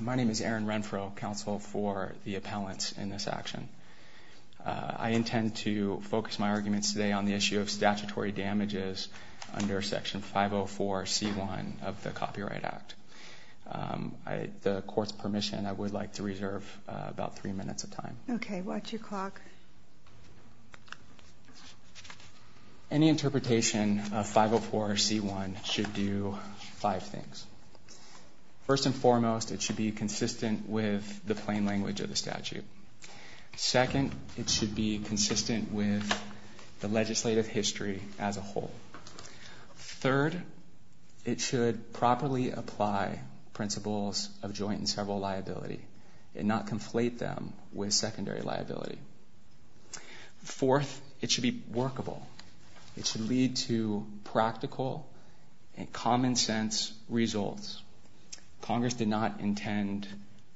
My name is Aaron Renfroe, counsel for the appellants in this action. I intend to focus my arguments today on the issue of statutory damages under section 504c1 of the Copyright Act. With the court's permission, I would like to reserve about three minutes of time. Any interpretation of 504c1 should do five things. First and foremost, it should be consistent with the plain language of the statute. Second, it should be consistent with the legislative history as a whole. Third, it should properly apply principles of joint and several liability and not conflate them with secondary liability. Fourth, it should be workable. It should lead to practical and common sense results. Congress did not intend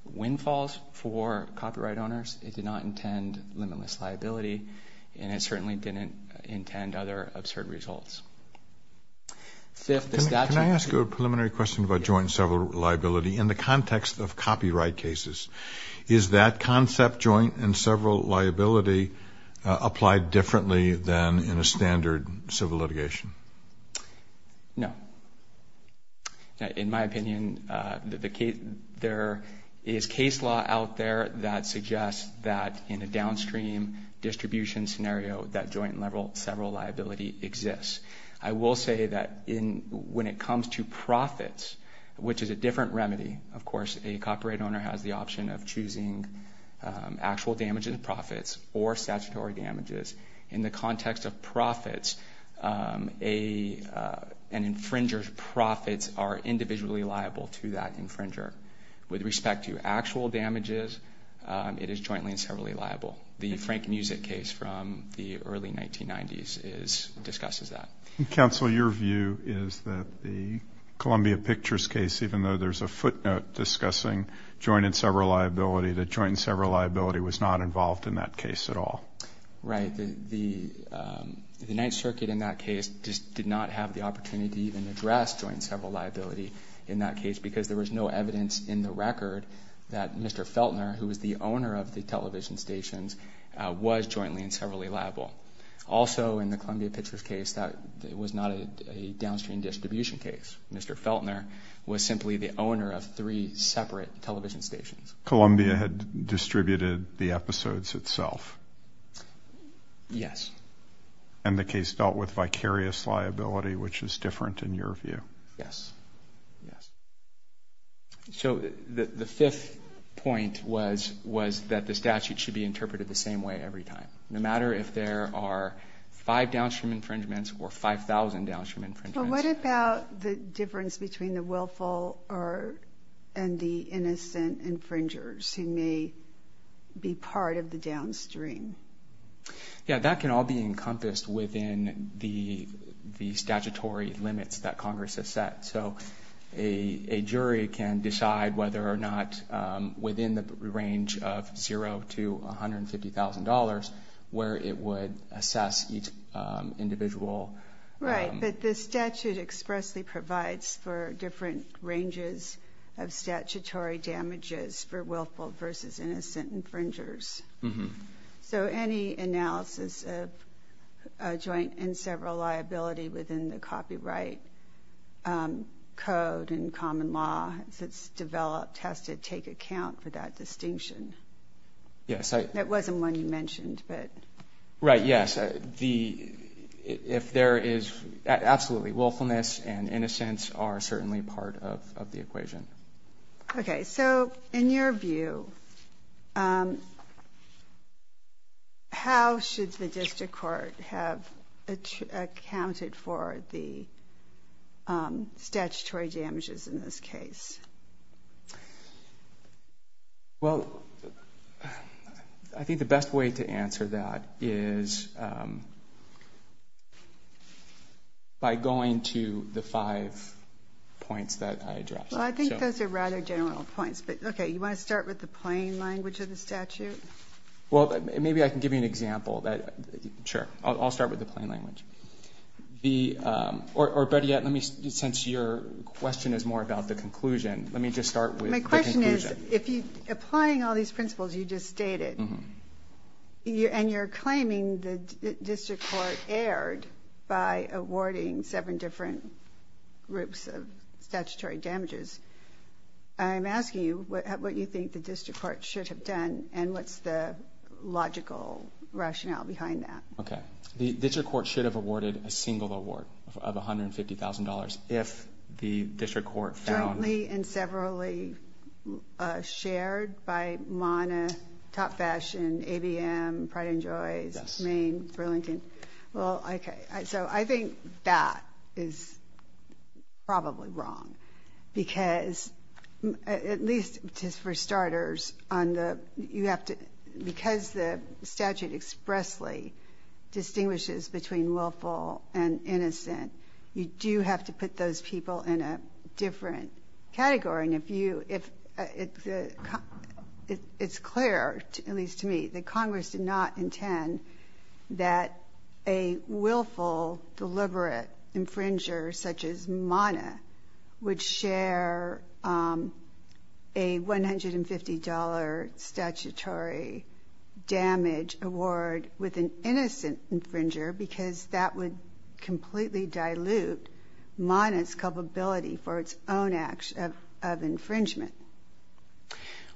windfalls for copyright owners. It did not intend limitless liability, and it certainly didn't intend other absurd results. Fifth, the statute- Is that concept, joint and several liability, applied differently than in a standard civil litigation? No. In my opinion, there is case law out there that suggests that in a downstream distribution scenario that joint and several liability exists. I will say that when it comes to profits, which is a different remedy. Of course, a copyright owner has the option of choosing actual damages and profits or statutory damages. In the context of profits, an infringer's profits are individually liable to that infringer. With respect to actual damages, it is jointly and severally liable. The Frank Musick case from the early 1990s discusses that. Counsel, your view is that the Columbia Pictures case, even though there's a footnote discussing joint and several liability, that joint and several liability was not involved in that case at all. Right. The Ninth Circuit in that case did not have the opportunity to even address joint and several liability in that case because there was no evidence in the record that Mr. Feltner, who was the owner of the television stations, was jointly and severally liable. Also, in the Columbia Pictures case, that was not a downstream distribution case. Mr. Feltner was simply the owner of three separate television stations. Columbia had distributed the episodes itself? Yes. And the case dealt with vicarious liability, which is different in your view? Yes. Yes. So the fifth point was that the statute should be interpreted the same way every time, no matter if there are five downstream infringements or 5,000 downstream infringements. But what about the difference between the willful and the innocent infringers who may be part of the downstream? Yes. That can all be encompassed within the statutory limits that Congress has set. So a jury can decide whether or not, within the range of zero to $150,000, where it would assess each individual. Right. But the statute expressly provides for different ranges of statutory damages for willful versus innocent infringers. So any analysis of joint and several liability within the copyright code and common law that's developed has to take account for that distinction. Yes. That wasn't one you mentioned, but... Right. Yes. If there is absolutely willfulness and innocence are certainly part of the equation. Okay. So in your view, how should the district court have accounted for the statutory damages in this case? Well, I think the best way to answer that is by going to the five points that I addressed. Well, I think those are rather general points. But, okay, you want to start with the plain language of the statute? Well, maybe I can give you an example. Sure. I'll start with the plain language. Or, Betty, since your question is more about the conclusion, let me just start with the conclusion. My question is, applying all these principles you just stated, and you're claiming the I'm asking you what you think the district court should have done and what's the logical rationale behind that. Okay. The district court should have awarded a single award of $150,000 if the district court found... Jointly and severally shared by MANA, Top Fashion, ABM, Pride and Joy, Maine, Burlington. Well, okay. So I think that is probably wrong, because at least just for starters on the you have to because the statute expressly distinguishes between willful and innocent, you do have to put those people in a different category. It's clear, at least to me, that Congress did not intend that a willful, deliberate infringer such as MANA would share a $150 statutory damage award with an innocent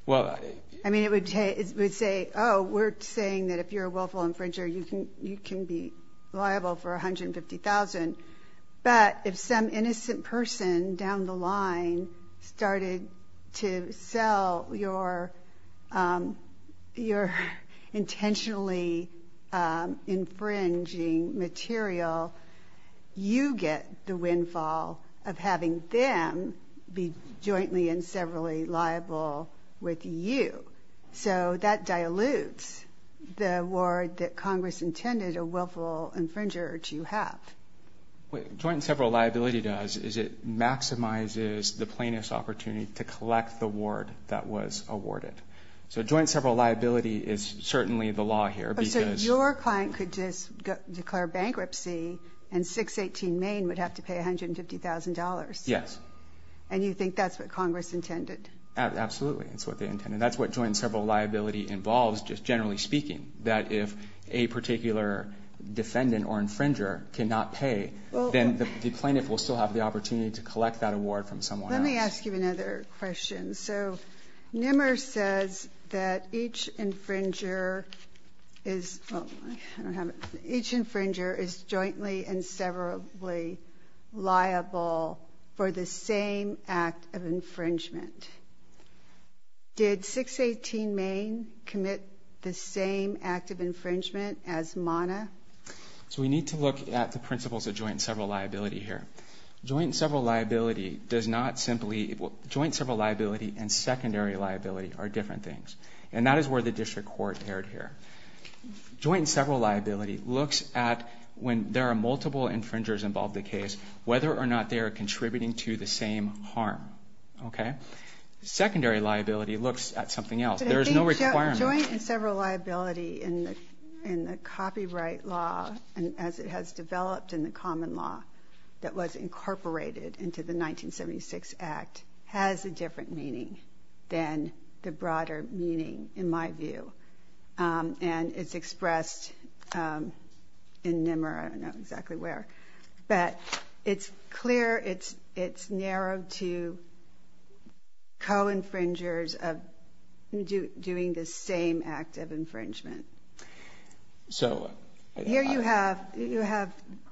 Well... I mean, it would say, oh, we're saying that if you're a willful infringer, you can be liable for $150,000. But if some innocent person down the line started to sell your intentionally infringing material, you get the windfall of having them be jointly and severally liable with you. So that dilutes the award that Congress intended a willful infringer to have. What joint and several liability does is it maximizes the plaintiff's opportunity to Oh, so your client could just declare bankruptcy and 618 Maine would have to pay $150,000? Yes. And you think that's what Congress intended? Absolutely. That's what they intended. That's what joint and several liability involves, just generally speaking, that if a particular defendant or infringer cannot pay, then the plaintiff will still have the opportunity to collect that award from someone else. Let me ask you another question. So NMR says that each infringer is jointly and severably liable for the same act of infringement. Did 618 Maine commit the same act of infringement as MANA? So we need to look at the principles of joint and several liability here. Joint and several liability does not simply, joint and several liability and secondary liability are different things. And that is where the district court erred here. Joint and several liability looks at when there are multiple infringers involved in the case, whether or not they are contributing to the same harm. Okay? Secondary liability looks at something else. There is no requirement. But I think joint and several liability in the copyright law, as it has developed in the common law that was incorporated into the 1976 Act, has a different meaning than the broader meaning, in my view. And it's expressed in NMR. I don't know exactly where. But it's clear, it's narrowed to co-infringers doing the same act of infringement. Here you have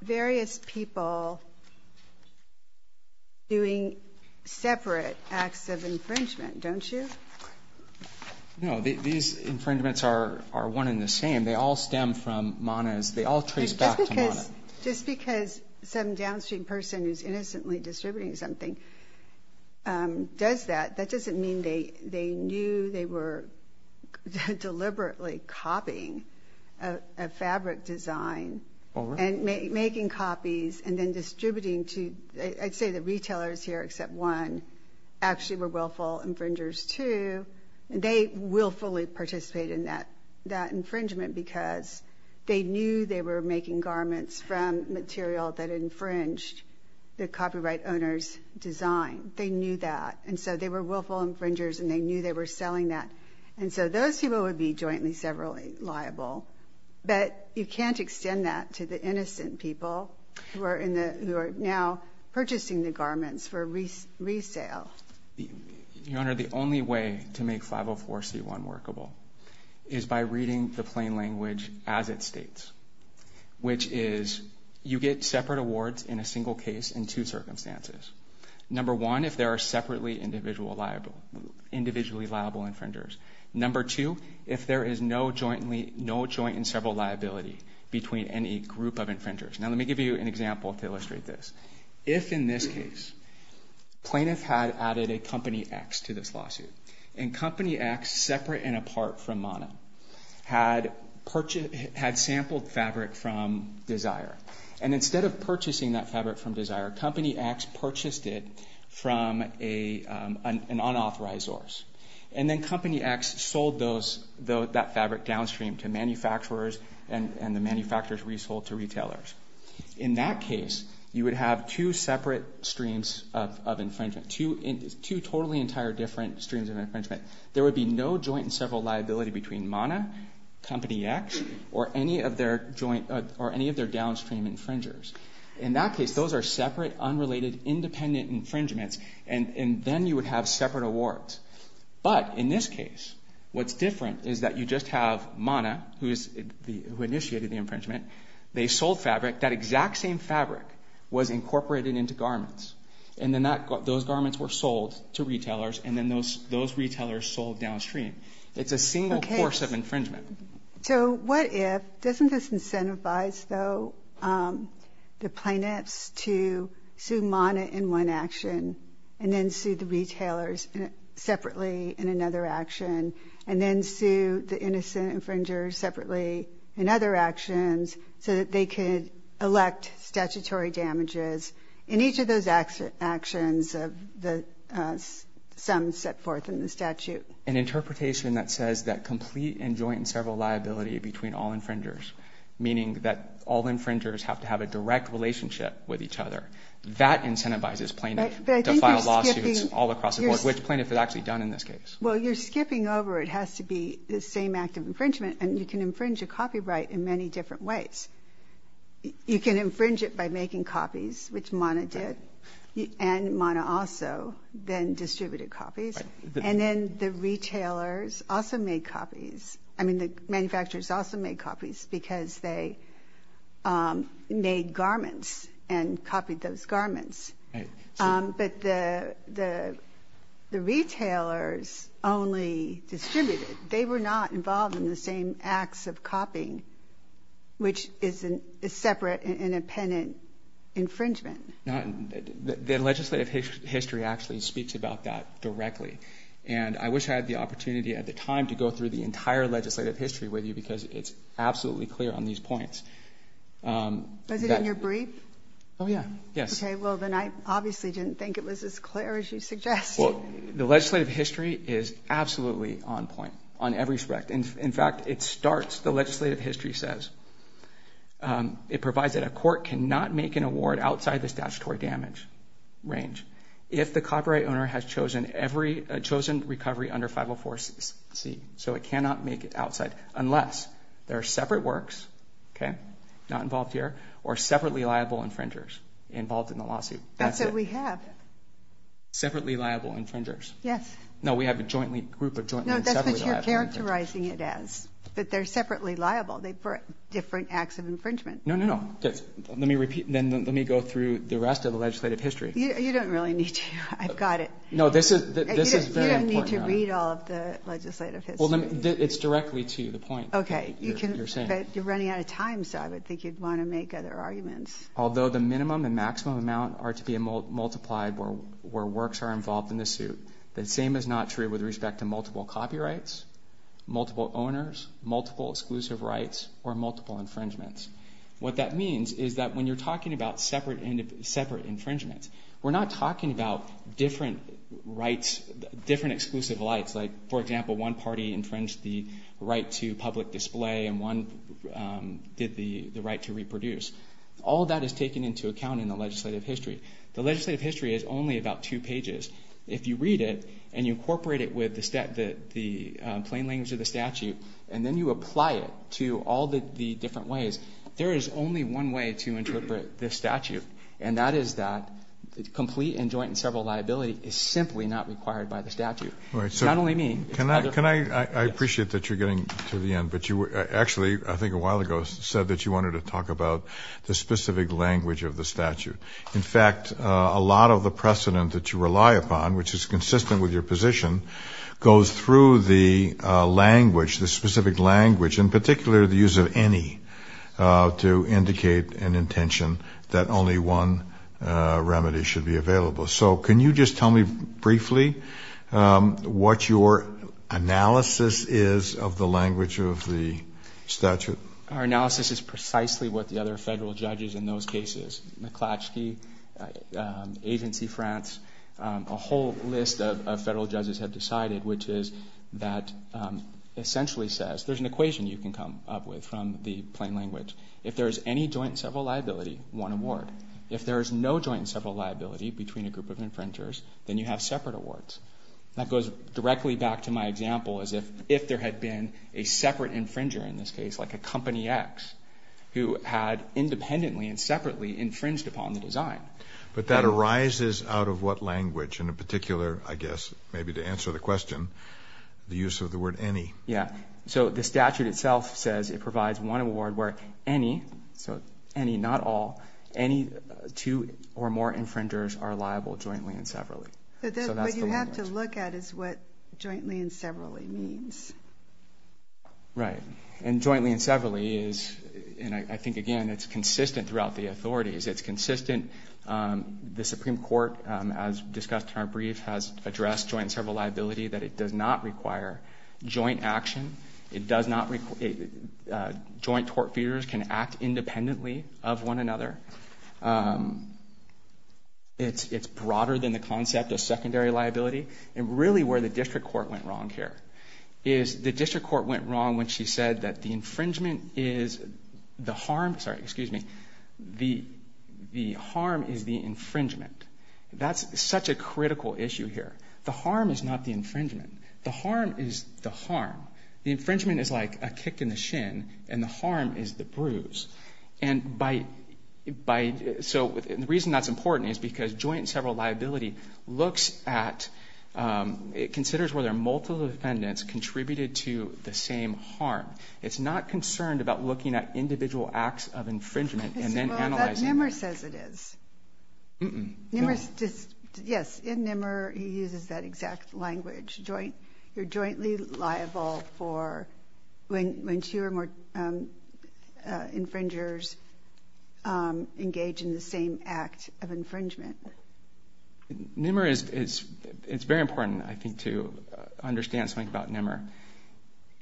various people doing separate acts of infringement, don't you? No, these infringements are one and the same. They all stem from MANA. They all trace back to MANA. Just because some downstream person is innocently distributing something does that, that doesn't mean they knew they were deliberately copying a fabric design and making copies and then distributing to, I'd say the retailers here except one, actually were willful infringers too. They willfully participated in that infringement because they knew they were making garments from material that infringed the copyright owner's design. They knew that. And so they were willful infringers and they knew they were selling that. And so those people would be jointly severally liable. But you can't extend that to the innocent people who are now purchasing the garments for resale. Your Honor, the only way to make 504c1 workable is by reading the plain language as it states, which is you get separate awards in a single case in two circumstances. Number one, if there are separately individually liable infringers. Number two, if there is no joint and several liability between any group of infringers. Now let me give you an example to illustrate this. If in this case plaintiff had added a company X to this lawsuit and company X separate and apart from MANA had purchased, had sampled fabric from Desire. And instead of purchasing that fabric from Desire, company X purchased it from an unauthorized source. And then company X sold that fabric downstream to manufacturers and the manufacturers resold to retailers. In that case, you would have two separate streams of infringement, two totally entire different streams of infringement. There would be no joint and several liability between MANA, company X, or any of their downstream infringers. In that case, those are separate, unrelated, independent infringements. And then you would have separate awards. But in this case, what's different is that you just have MANA, who initiated the infringement, they sold fabric. That exact same fabric was incorporated into garments. And then those garments were sold to retailers and then those retailers sold downstream. It's a single course of infringement. So what if, doesn't this incentivize, though, the plaintiffs to sue MANA in one action and then sue the retailers separately in another action and then sue the innocent infringers separately in other actions so that they could elect statutory damages in each of those actions of some set forth in the statute? An interpretation that says that complete and joint and several liability between all infringers, meaning that all infringers have to have a direct relationship with each other, that incentivizes plaintiffs to file lawsuits all across the board, which plaintiffs have actually done in this case. Well, you're skipping over. It has to be the same act of infringement, and you can infringe a copyright in many different ways. You can infringe it by making copies, which MANA did, and MANA also then distributed copies. And then the retailers also made copies. I mean, the manufacturers also made copies because they made garments and copied those garments. But the retailers only distributed. They were not involved in the same acts of copying, which is a separate, independent infringement. The legislative history actually speaks about that directly. And I wish I had the opportunity at the time to go through the entire legislative history with you because it's absolutely clear on these points. Was it in your brief? Oh, yeah. Yes. Okay. Well, then I obviously didn't think it was as clear as you suggested. Well, the legislative history is absolutely on point on every respect. In fact, it starts, the legislative history says, it provides that a court cannot make an award outside the statutory damage range if the copyright owner has chosen recovery under 504C. So it cannot make it outside unless there are separate works, okay, not involved here, or separately liable infringers involved in the lawsuit. That's what we have. Separately liable infringers. Yes. No, we have a group of jointly and separately liable infringers. Characterizing it as, but they're separately liable for different acts of infringement. No, no, no. Let me repeat. Then let me go through the rest of the legislative history. You don't really need to. I've got it. No, this is very important. You don't need to read all of the legislative history. Well, it's directly to the point you're saying. Okay. But you're running out of time, so I would think you'd want to make other arguments. Although the minimum and maximum amount are to be multiplied where works are involved in the suit, the same is not true with respect to multiple copyrights, multiple owners, multiple exclusive rights, or multiple infringements. What that means is that when you're talking about separate infringements, we're not talking about different exclusive rights. Like, for example, one party infringed the right to public display, and one did the right to reproduce. All of that is taken into account in the legislative history. The legislative history is only about two pages. If you read it and you incorporate it with the plain language of the statute and then you apply it to all the different ways, there is only one way to interpret this statute, and that is that complete and joint and several liability is simply not required by the statute. Not only me. I appreciate that you're getting to the end, but you actually, I think a while ago, said that you wanted to talk about the specific language of the statute. In fact, a lot of the precedent that you rely upon, which is consistent with your position, goes through the language, the specific language, in particular the use of any to indicate an intention that only one remedy should be available. So can you just tell me briefly what your analysis is of the language of the statute? Our analysis is precisely what the other federal judges in those cases, McClatchy, Agency France, a whole list of federal judges have decided, which is that essentially says there's an equation you can come up with from the plain language. If there is any joint and several liability, one award. If there is no joint and several liability between a group of infringers, then you have separate awards. That goes directly back to my example as if there had been a separate infringer in this case, like a company X, who had independently and separately infringed upon the design. But that arises out of what language? In particular, I guess, maybe to answer the question, the use of the word any. Yeah. So the statute itself says it provides one award where any, so any, not all, any two or more infringers are liable jointly and severally. What you have to look at is what jointly and severally means. Right. And jointly and severally is, and I think, again, it's consistent throughout the authorities. It's consistent. The Supreme Court, as discussed in our brief, has addressed joint and several liability, that it does not require joint action. It does not, joint tort feeders can act independently of one another. It's broader than the concept of secondary liability. And really where the district court went wrong here is the district court went wrong when she said that the infringement is the harm, sorry, excuse me, the harm is the infringement. That's such a critical issue here. The harm is not the infringement. The harm is the harm. The infringement is like a kick in the shin, and the harm is the bruise. And by, so the reason that's important is because joint and several liability looks at, it considers whether multiple defendants contributed to the same harm. It's not concerned about looking at individual acts of infringement and then analyzing. Well, that NMR says it is. NMR just, yes, in NMR he uses that exact language. Joint, you're jointly liable for when two or more infringers engage in the same act of infringement. NMR is, it's very important, I think, to understand something about NMR.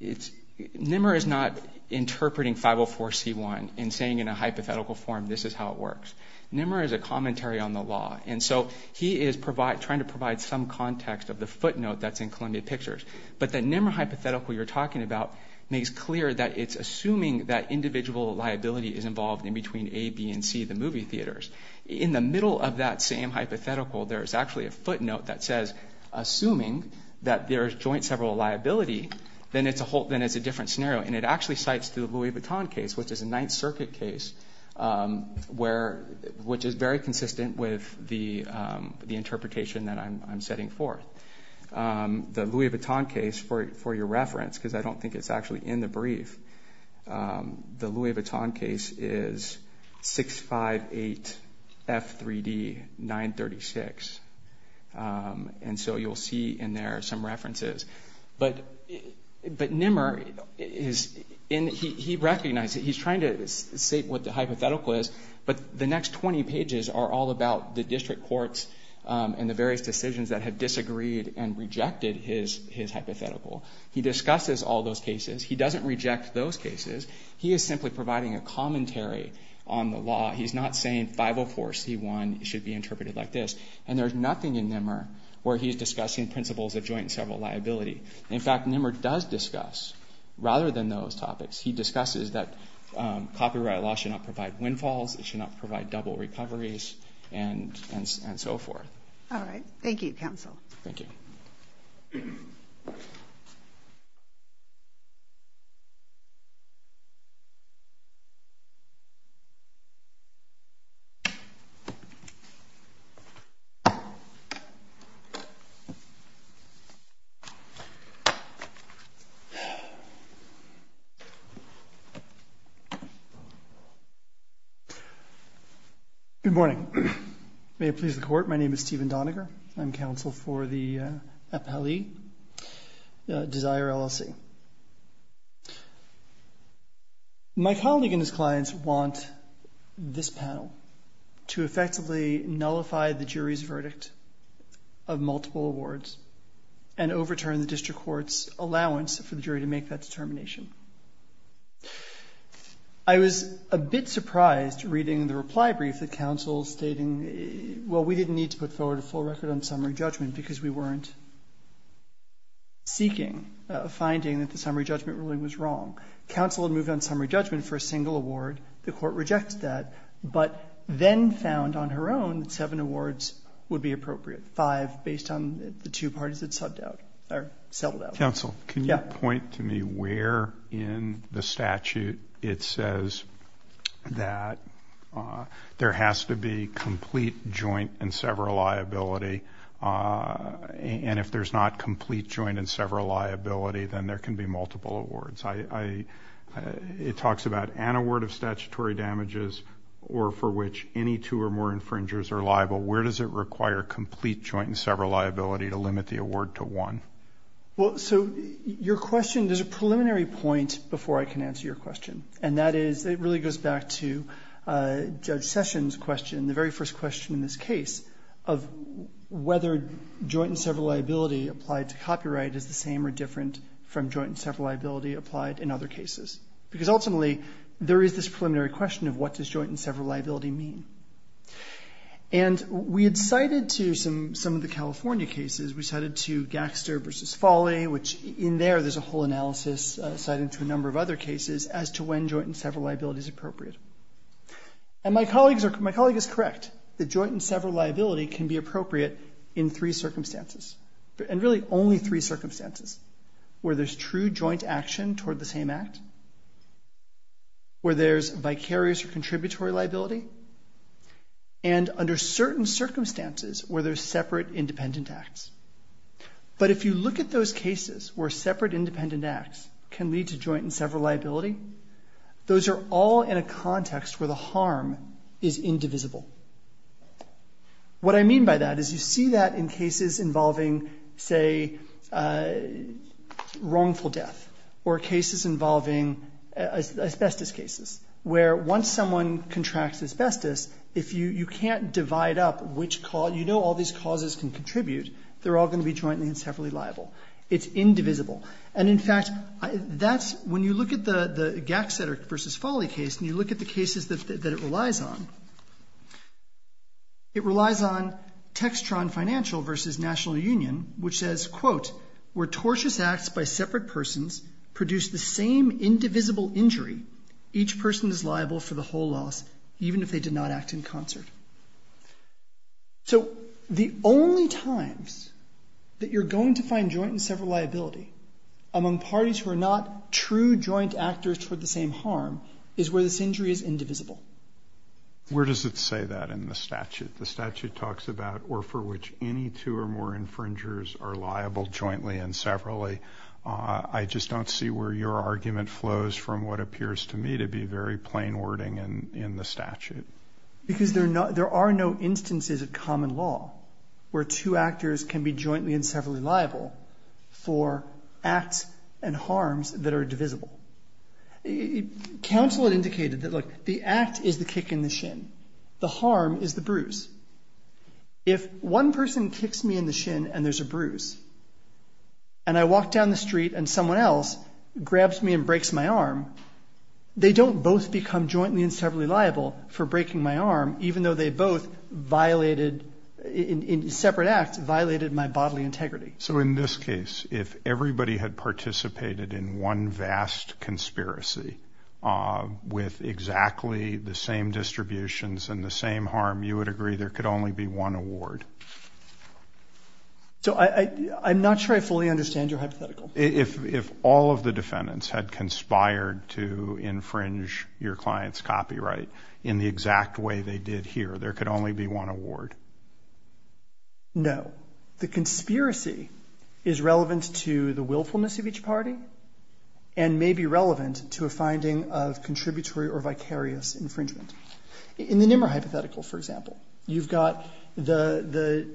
NMR is not interpreting 504C1 and saying in a hypothetical form, this is how it works. NMR is a commentary on the law. And so he is trying to provide some context of the footnote that's in Columbia Pictures. But the NMR hypothetical you're talking about makes clear that it's assuming that individual liability is involved in between A, B, and C, the movie theaters. In the middle of that same hypothetical, there is actually a footnote that says, assuming that there is joint several liability, then it's a different scenario. And it actually cites the Louis Vuitton case, which is a Ninth Circuit case, which is very consistent with the interpretation that I'm setting forth. The Louis Vuitton case, for your reference, because I don't think it's actually in the brief, the Louis Vuitton case is 658F3D936. And so you'll see in there some references. But NMR, he recognizes, he's trying to state what the hypothetical is, but the next 20 pages are all about the district courts and the various decisions that have disagreed and rejected his hypothetical. He discusses all those cases. He doesn't reject those cases. He is simply providing a commentary on the law. He's not saying 504C1 should be interpreted like this. And there's nothing in NMR where he's discussing principles of joint and several liability. In fact, NMR does discuss, rather than those topics, he discusses that copyright law should not provide windfalls, it should not provide double recoveries, and so forth. All right. Thank you, counsel. Thank you. Good morning. May it please the Court, my name is Stephen Doniger. I'm counsel for the appellee, Desire LLC. My colleague and his clients want this panel to effectively nullify the jury's verdict of multiple awards and overturn the district court's allowance for the jury to make that determination. I was a bit surprised reading the reply brief that counsel stating, well, we didn't need to put forward a full record on summary judgment because we weren't seeking a finding that the summary judgment ruling was wrong. Counsel had moved on summary judgment for a single award. The Court rejects that, but then found on her own that seven awards would be appropriate, five based on the two parties that subbed out or settled out. Counsel, can you point to me where in the statute it says that there has to be complete joint and several liability, and if there's not complete joint and several liability, then there can be multiple awards. It talks about an award of statutory damages or for which any two or more infringers are liable. Where does it require complete joint and several liability to limit the award to one? Well, so your question, there's a preliminary point before I can answer your question, and that is it really goes back to Judge Sessions' question. The very first question in this case of whether joint and several liability applied to copyright is the same or different from joint and several liability applied in other cases, because ultimately there is this preliminary question of what does joint and several liability mean. And we had cited to some of the California cases, we cited to Gaxter v. Folley, which in there there's a whole analysis citing to a number of other cases as to when joint and several liability is appropriate. And my colleague is correct that joint and several liability can be appropriate in three circumstances, and really only three circumstances, where there's true joint action toward the same act, where there's vicarious or contributory liability, and under certain circumstances where there's separate independent acts. But if you look at those cases where separate independent acts can lead to joint and several liability, those are all in a context where the harm is indivisible. What I mean by that is you see that in cases involving, say, wrongful death, or cases involving asbestos cases, where once someone contracts asbestos, if you can't divide up which cause, you know all these causes can contribute, they're all going to be jointly and separately liable. It's indivisible. And, in fact, when you look at the Gaxter v. Folley case and you look at the cases that it relies on, it relies on Textron Financial v. National Union, which says, quote, where tortious acts by separate persons produce the same indivisible injury, each person is liable for the whole loss, even if they did not act in concert. So the only times that you're going to find joint and several liability among parties who are not true joint actors for the same harm is where this injury is indivisible. Where does it say that in the statute? The statute talks about or for which any two or more infringers are liable jointly and separately. I just don't see where your argument flows from what appears to me to be very plain wording in the statute. Because there are no instances of common law where two actors can be jointly and separately liable for acts and harms that are divisible. Counsel had indicated that, look, the act is the kick in the shin, the harm is the bruise. If one person kicks me in the shin and there's a bruise, and I walk down the street and someone else grabs me and breaks my arm, they don't both become jointly and separately liable for breaking my arm, even though they both violated, in separate acts, violated my bodily integrity. So in this case, if everybody had participated in one vast conspiracy with exactly the same distributions and the same harm, you would agree there could only be one award? So I'm not sure I fully understand your hypothetical. If all of the defendants had conspired to infringe your client's copyright in the exact way they did here, there could only be one award? No. The conspiracy is relevant to the willfulness of each party and may be relevant to a finding of contributory or vicarious infringement. In the Nimmer hypothetical, for example, you've got the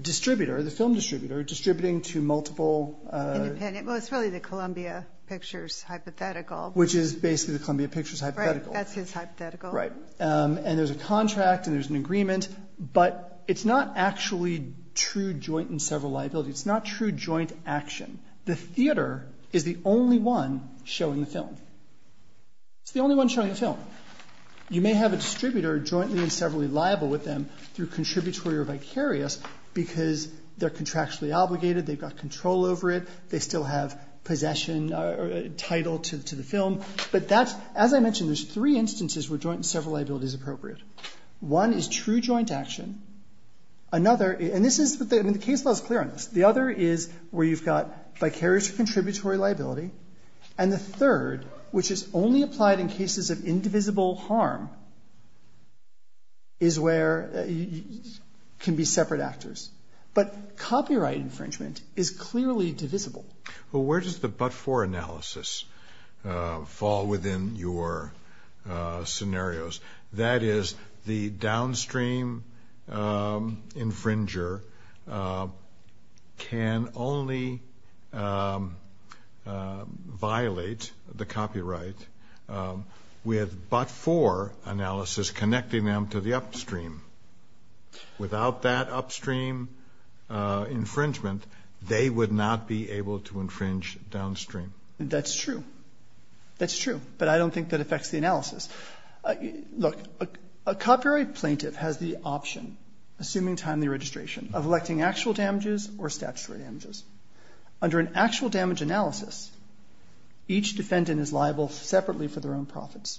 distributor, the film distributor, distributing to multiple... Independent. Well, it's really the Columbia Pictures hypothetical. Which is basically the Columbia Pictures hypothetical. Right. That's his hypothetical. Right. And there's a contract and there's an agreement, but it's not actually true joint and several liability. It's not true joint action. The theater is the only one showing the film. It's the only one showing the film. You may have a distributor jointly and separately liable with them through contributory or vicarious because they're contractually obligated. They've got control over it. They still have possession or title to the film. But that's... As I mentioned, there's three instances where joint and several liability is appropriate. One is true joint action. Another... And this is... I mean, the case law is clear on this. The other is where you've got vicarious or contributory liability. And the third, which is only applied in cases of indivisible harm, is where it can be separate actors. But copyright infringement is clearly divisible. Well, where does the but-for analysis fall within your scenarios? That is, the downstream infringer can only violate the copyright infringement with but-for analysis connecting them to the upstream. Without that upstream infringement, they would not be able to infringe downstream. That's true. That's true. But I don't think that affects the analysis. Look, a copyright plaintiff has the option, assuming timely registration, of electing actual damages or statutory damages. Under an actual damage analysis, each defendant is liable separately for their own profits.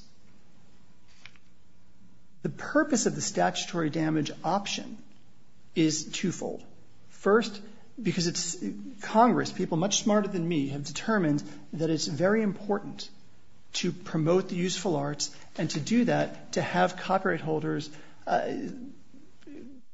The purpose of the statutory damage option is twofold. First, because it's Congress, people much smarter than me, have determined that it's very important to promote the useful arts and to do that to have copyright holders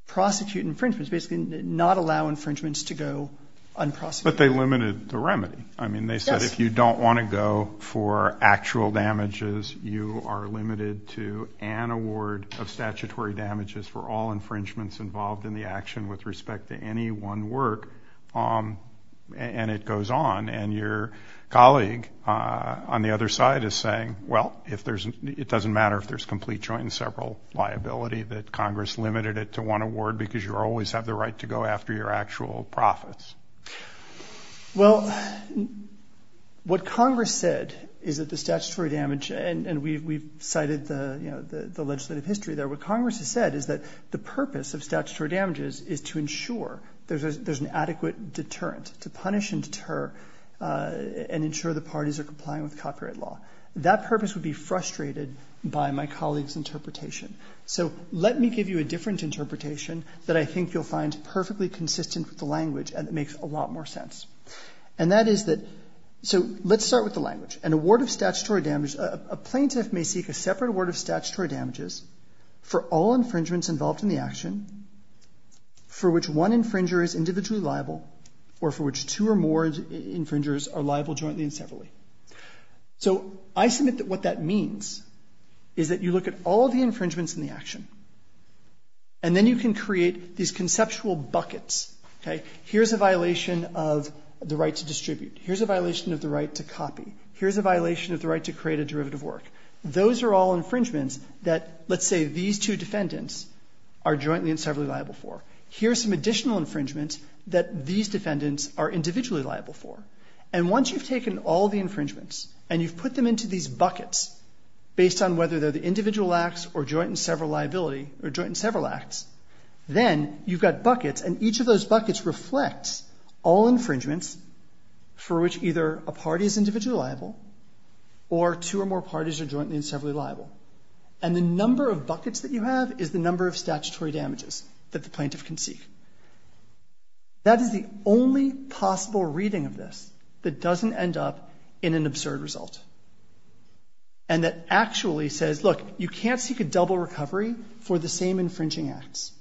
prosecute infringements, basically not allow infringements to go unprosecuted. But they limited the remedy. Yes. I mean, they said if you don't want to go for actual damages, you are limited to an award of statutory damages for all infringements involved in the action with respect to any one work, and it goes on. And your colleague on the other side is saying, well, it doesn't matter if there's complete joint and several liability, that Congress limited it to one award because you always have the right to go after your actual profits. Well, what Congress said is that the statutory damage, and we've cited the legislative history there, what Congress has said is that the purpose of statutory damages is to ensure there's an adequate deterrent, to punish and deter and ensure the parties are complying with copyright law. That purpose would be frustrated by my colleague's interpretation. So let me give you a different interpretation that I think you'll find perfectly consistent with the language and it makes a lot more sense. And that is that, so let's start with the language. An award of statutory damage, a plaintiff may seek a separate award of statutory damages for all infringements involved in the action for which one infringer is individually liable or for which two or more infringers are liable jointly and separately. So I submit that what that means is that you look at all the infringements in the action and then you can create these conceptual buckets. Here's a violation of the right to distribute. Here's a violation of the right to copy. Here's a violation of the right to create a derivative work. Those are all infringements that, let's say, these two defendants are jointly and separately liable for. Here's some additional infringements that these defendants are individually liable for. And once you've taken all the infringements and you've put them into these buckets based on whether they're the individual acts or joint and several liability or joint and several acts, then you've got buckets and each of those buckets reflects all infringements for which either a party is individually liable or two or more parties are jointly and separately liable. And the number of buckets that you have is the number of statutory damages that the plaintiff can seek. That is the only possible reading of this that doesn't end up in an absurd result and that actually says, look, you can't seek a double recovery for the same infringing acts.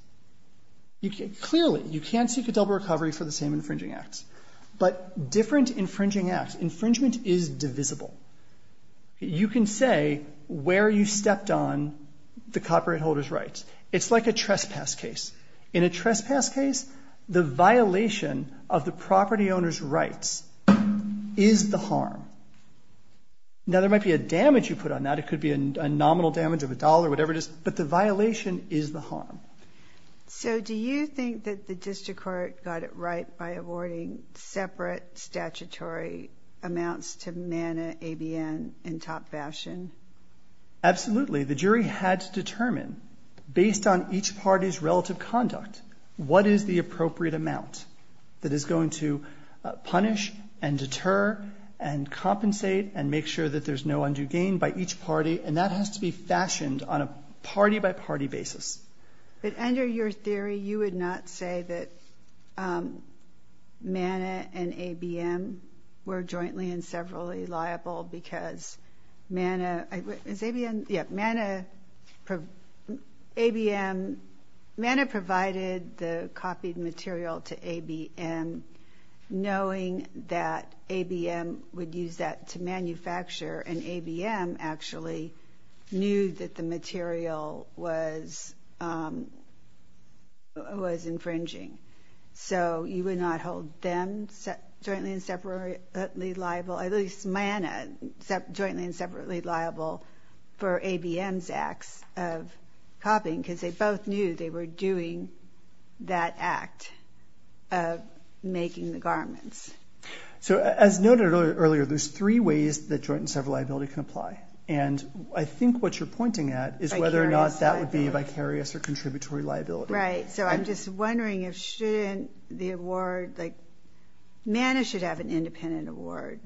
Clearly, you can't seek a double recovery for the same infringing acts. But different infringing acts, infringement is divisible. You can say where you stepped on the copyright holder's rights. It's like a trespass case. In a trespass case, the violation of the property owner's rights is the harm. Now, there might be a damage you put on that. It could be a nominal damage of a dollar or whatever it is, but the violation is the harm. So do you think that the district court got it right by awarding separate statutory amounts to Manna ABN in top fashion? Absolutely. The jury had to determine, based on each party's relative conduct, what is the appropriate amount that is going to punish and deter and compensate and make sure that there's no undue gain by each party. And that has to be fashioned on a party-by-party basis. But under your theory, you would not say that Manna and ABN were jointly and separately liable because Manna – Manna provided the copied material to ABN knowing that ABN would use that to manufacture, and ABN actually knew that the material was infringing. So you would not hold them jointly and separately liable – at least Manna jointly and separately liable for ABN's acts of copying because they both knew they were doing that act of making the garments. So as noted earlier, there's three ways that joint and separate liability can apply. And I think what you're pointing at is whether or not that would be vicarious or contributory liability. Right. So I'm just wondering if shouldn't the award – like, Manna should have an independent award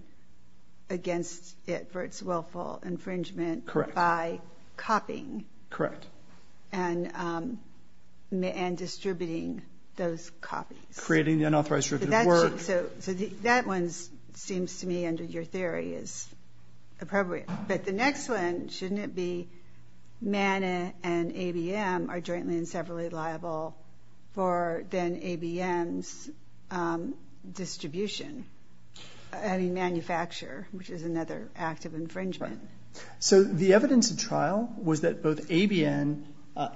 against it for its willful infringement by copying. Correct. And distributing those copies. Creating the unauthorized derivative of work. So that one seems to me, under your theory, is appropriate. But the next one, shouldn't it be Manna and ABN are jointly and separately liable for then ABN's distribution? I mean, manufacture, which is another act of infringement. So the evidence of trial was that both ABN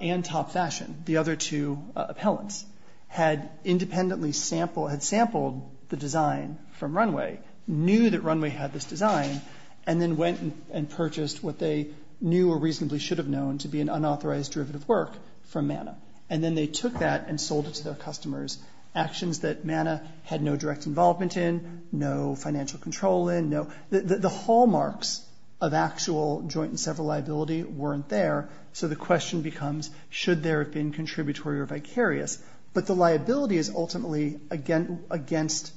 and Top Fashion, the other two appellants, had independently sampled – had sampled the design from Runway, knew that Runway had this design, and then went and purchased what they knew or reasonably should have known to be an unauthorized derivative work from Manna. And then they took that and sold it to their customers, actions that Manna had no direct involvement in, no financial control in. The hallmarks of actual joint and separate liability weren't there. So the question becomes, should there have been contributory or vicarious? But the liability is ultimately against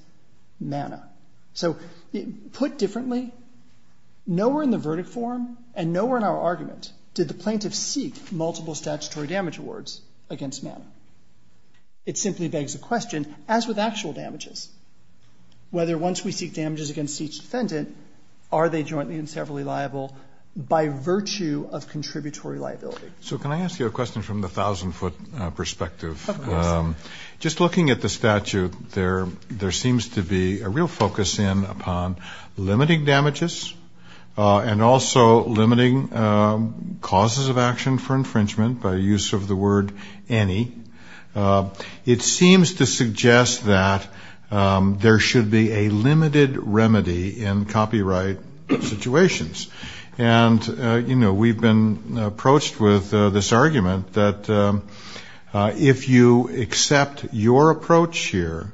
Manna. So put differently, nowhere in the verdict form and nowhere in our argument did the plaintiff seek multiple statutory damage awards against Manna. It simply begs the question, as with actual damages, whether once we seek damages against each defendant, are they jointly and separately liable by virtue of contributory liability? So can I ask you a question from the 1,000-foot perspective? Yes. Just looking at the statute, there seems to be a real focus in upon limiting damages and also limiting causes of action for infringement by use of the word any. It seems to suggest that there should be a limited remedy in copyright situations. And, you know, we've been approached with this argument that if you accept your approach here,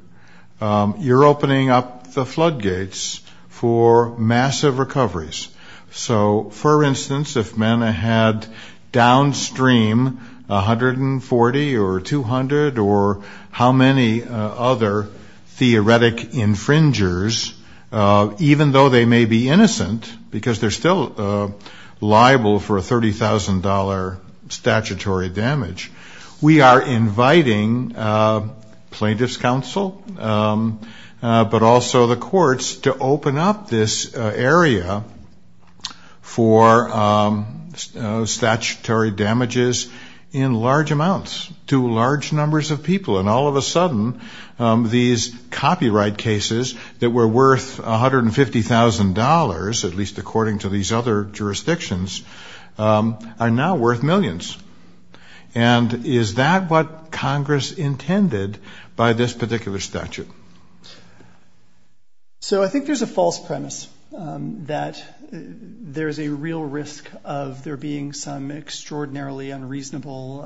you're opening up the floodgates for massive recoveries. So, for instance, if Manna had downstream 140 or 200 or how many other theoretic infringers, even though they may be innocent because they're still liable for a $30,000 statutory damage, we are inviting plaintiff's counsel, but also the courts, to open up this area for statutory damages in large amounts to large numbers of people. And all of a sudden, these copyright cases that were worth $150,000, at least according to these other jurisdictions, are now worth millions. And is that what Congress intended by this particular statute? So I think there's a false premise that there's a real risk of there being some extraordinarily unreasonable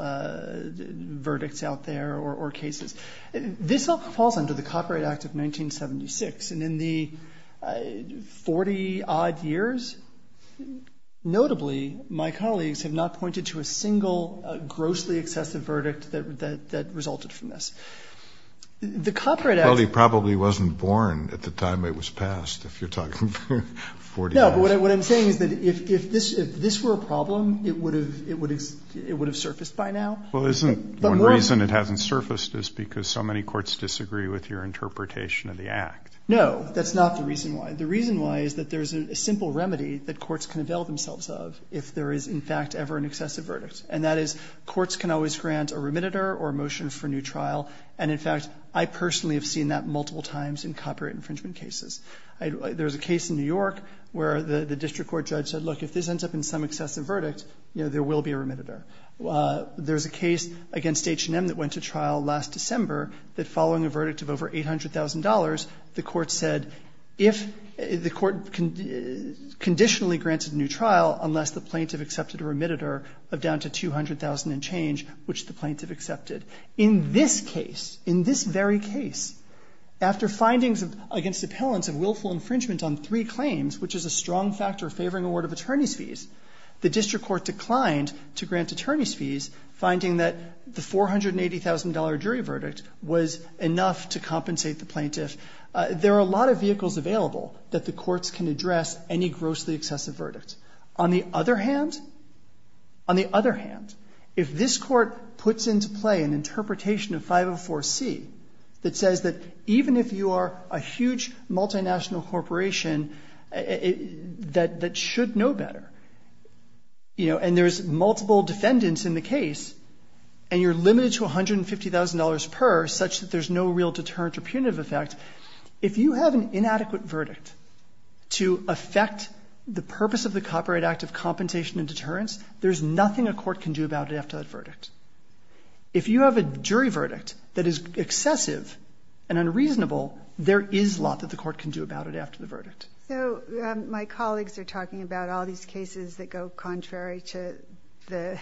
verdicts out there or cases. This all falls under the Copyright Act of 1976, and in the 40-odd years, notably my colleagues have not pointed to a single grossly excessive verdict that resulted from this. The Copyright Act... Kennedy. Well, he probably wasn't born at the time it was passed, if you're talking 40 years. What I'm saying is that if this were a problem, it would have surfaced by now. Well, isn't one reason it hasn't surfaced is because so many courts disagree with your interpretation of the Act? No. That's not the reason why. The reason why is that there's a simple remedy that courts can avail themselves of if there is, in fact, ever an excessive verdict, and that is courts can always grant a remediator or a motion for new trial. And, in fact, I personally have seen that multiple times in copyright infringement cases. There's a case in New York where the district court judge said, look, if this ends up in some excessive verdict, you know, there will be a remediator. There's a case against H&M that went to trial last December that following a verdict of over $800,000, the court said if the court conditionally granted a new trial unless the plaintiff accepted a remediator of down to $200,000 and change, which the plaintiff accepted. In this case, in this very case, after findings against appellants of willful infringement on three claims, which is a strong factor favoring award of attorney's fees, the district court declined to grant attorney's fees, finding that the $480,000 jury verdict was enough to compensate the plaintiff. There are a lot of vehicles available that the courts can address any grossly excessive verdict. On the other hand, on the other hand, if this court puts into play an interpretation of 504C that says that even if you are a huge multinational corporation that should know better, you know, and there's multiple defendants in the case and you're limited to $150,000 per such that there's no real deterrent or punitive effect, if you have an inadequate verdict to affect the purpose of the Copyright Act of Compensation and Deterrence, there's nothing a court can do about it after that verdict. If you have a jury verdict that is excessive and unreasonable, there is a lot that the court can do about it after the verdict. So my colleagues are talking about all these cases that go contrary to the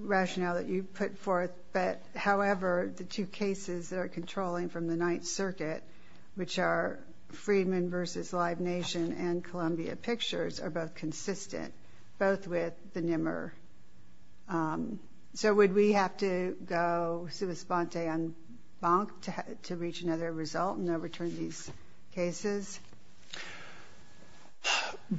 rationale that you put forth, but however, the two cases that are controlling from the Ninth Circuit, which are Freedman v. Live Nation and Columbia Pictures, are both consistent, both with the NIMR. So would we have to go sua sponte en banc to reach another result and overturn these cases?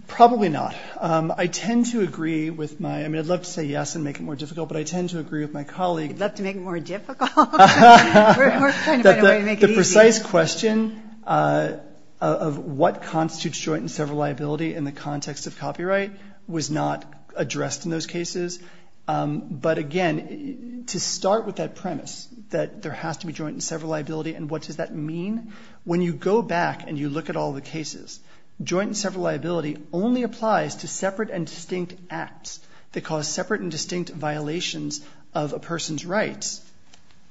Probably not. I tend to agree with my, I mean, I'd love to say yes and make it more difficult, but I tend to agree with my colleague that the precise question of what constitutes joint and several liability in the context of copyright was not addressed in those cases. But, again, to start with that premise that there has to be joint and several liability and what does that mean, when you go back and you look at all the cases, joint and several liability only applies to separate and distinct acts that cause separate and distinct violations of a person's rights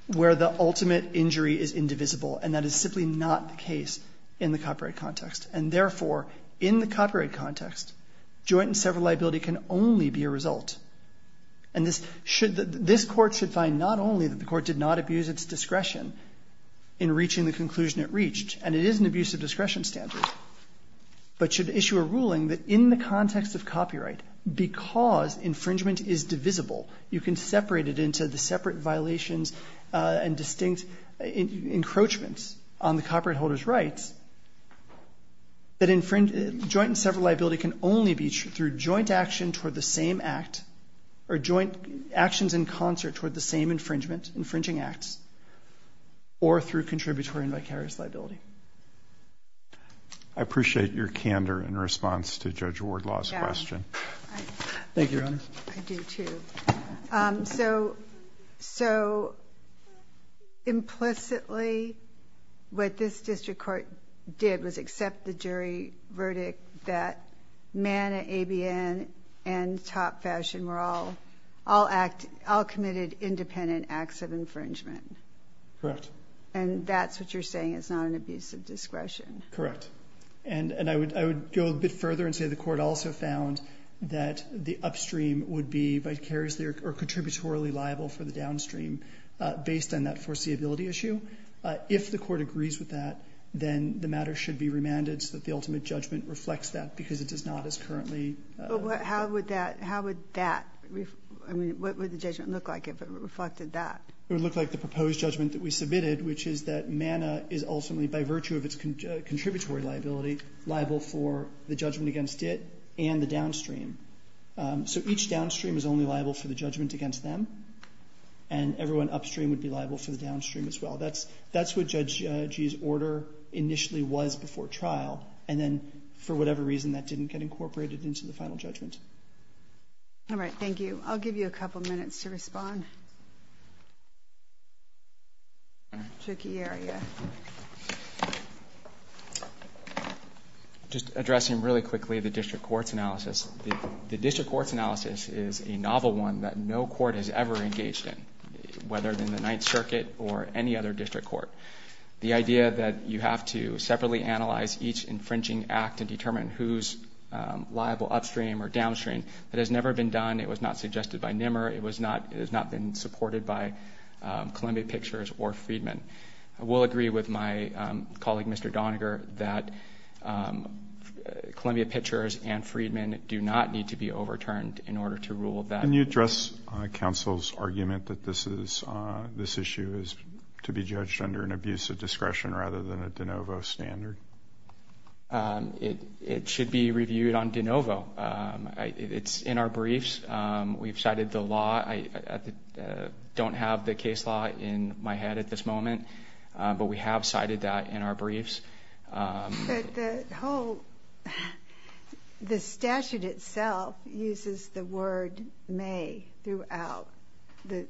where the ultimate injury is indivisible, and that is simply not the case in the copyright context. And, therefore, in the copyright context, joint and several liability can only be a result. And this court should find not only that the court did not abuse its discretion in reaching the conclusion it reached, and it is an abuse of discretion standard, but should issue a ruling that in the context of copyright, because infringement is divisible, you can separate it into the separate violations and distinct encroachments on the copyright holder's rights, that joint and several liability can only be through joint action toward the same act or joint actions in concert toward the same infringement, infringing acts, or through contributory and vicarious liability. I appreciate your candor in response to Judge Wardlaw's question. Thank you, Your Honor. I do, too. So, implicitly, what this district court did was accept the jury verdict that Manna, ABN, and Top Fashion were all committed independent acts of infringement. Correct. And that's what you're saying is not an abuse of discretion. Correct. And I would go a bit further and say the court also found that the upstream would be vicariously or contributorily liable for the downstream based on that foreseeability issue. If the court agrees with that, then the matter should be remanded so that the ultimate judgment reflects that, because it does not as currently. How would that, I mean, what would the judgment look like if it reflected that? It would look like the proposed judgment that we submitted, which is that Manna is ultimately, by virtue of its contributory liability, liable for the judgment against it and the downstream. So each downstream is only liable for the judgment against them, and everyone upstream would be liable for the downstream as well. That's what Judge Gee's order initially was before trial, and then for whatever reason that didn't get incorporated into the final judgment. All right, thank you. I'll give you a couple minutes to respond. Tricky area. Just addressing really quickly the district court's analysis. The district court's analysis is a novel one that no court has ever engaged in, whether in the Ninth Circuit or any other district court. The idea that you have to separately analyze each infringing act and determine who's liable upstream or downstream, that has never been done. It was not suggested by Nimmer. It has not been supported by Columbia Pictures or Freedman. I will agree with my colleague, Mr. Doniger, that Columbia Pictures and Freedman do not need to be overturned in order to rule that. Can you address counsel's argument that this issue is to be judged under an abuse of discretion rather than a de novo standard? It should be reviewed on de novo. It's in our briefs. We've cited the law. I don't have the case law in my head at this moment, but we have cited that in our briefs. The statute itself uses the word may throughout. The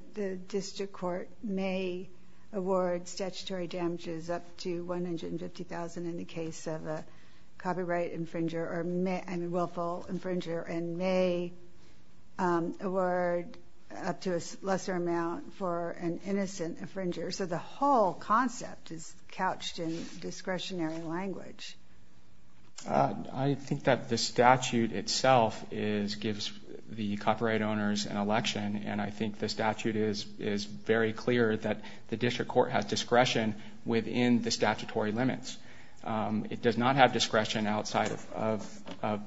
district court may award statutory damages up to $150,000 in the case of a copyright infringer or willful infringer and may award up to a lesser amount for an innocent infringer. So the whole concept is couched in discretionary language. I think that the statute itself gives the copyright owners an election, and I think the statute is very clear that the district court has discretion within the statutory limits. It does not have discretion outside of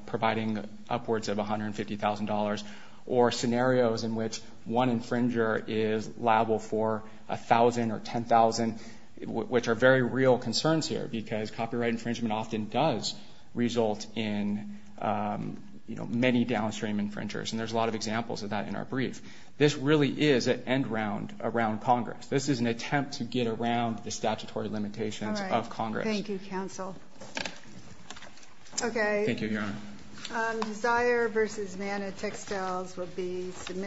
providing upwards of $150,000 or scenarios in which one infringer is liable for $1,000 or $10,000, which are very real concerns here because copyright infringement often does result in many downstream infringers, and there's a lot of examples of that in our brief. This really is an end round around Congress. This is an attempt to get around the statutory limitations of Congress. All right. Thank you, counsel. Okay. Thank you, Your Honor. Desire versus Mana textiles will be submitted.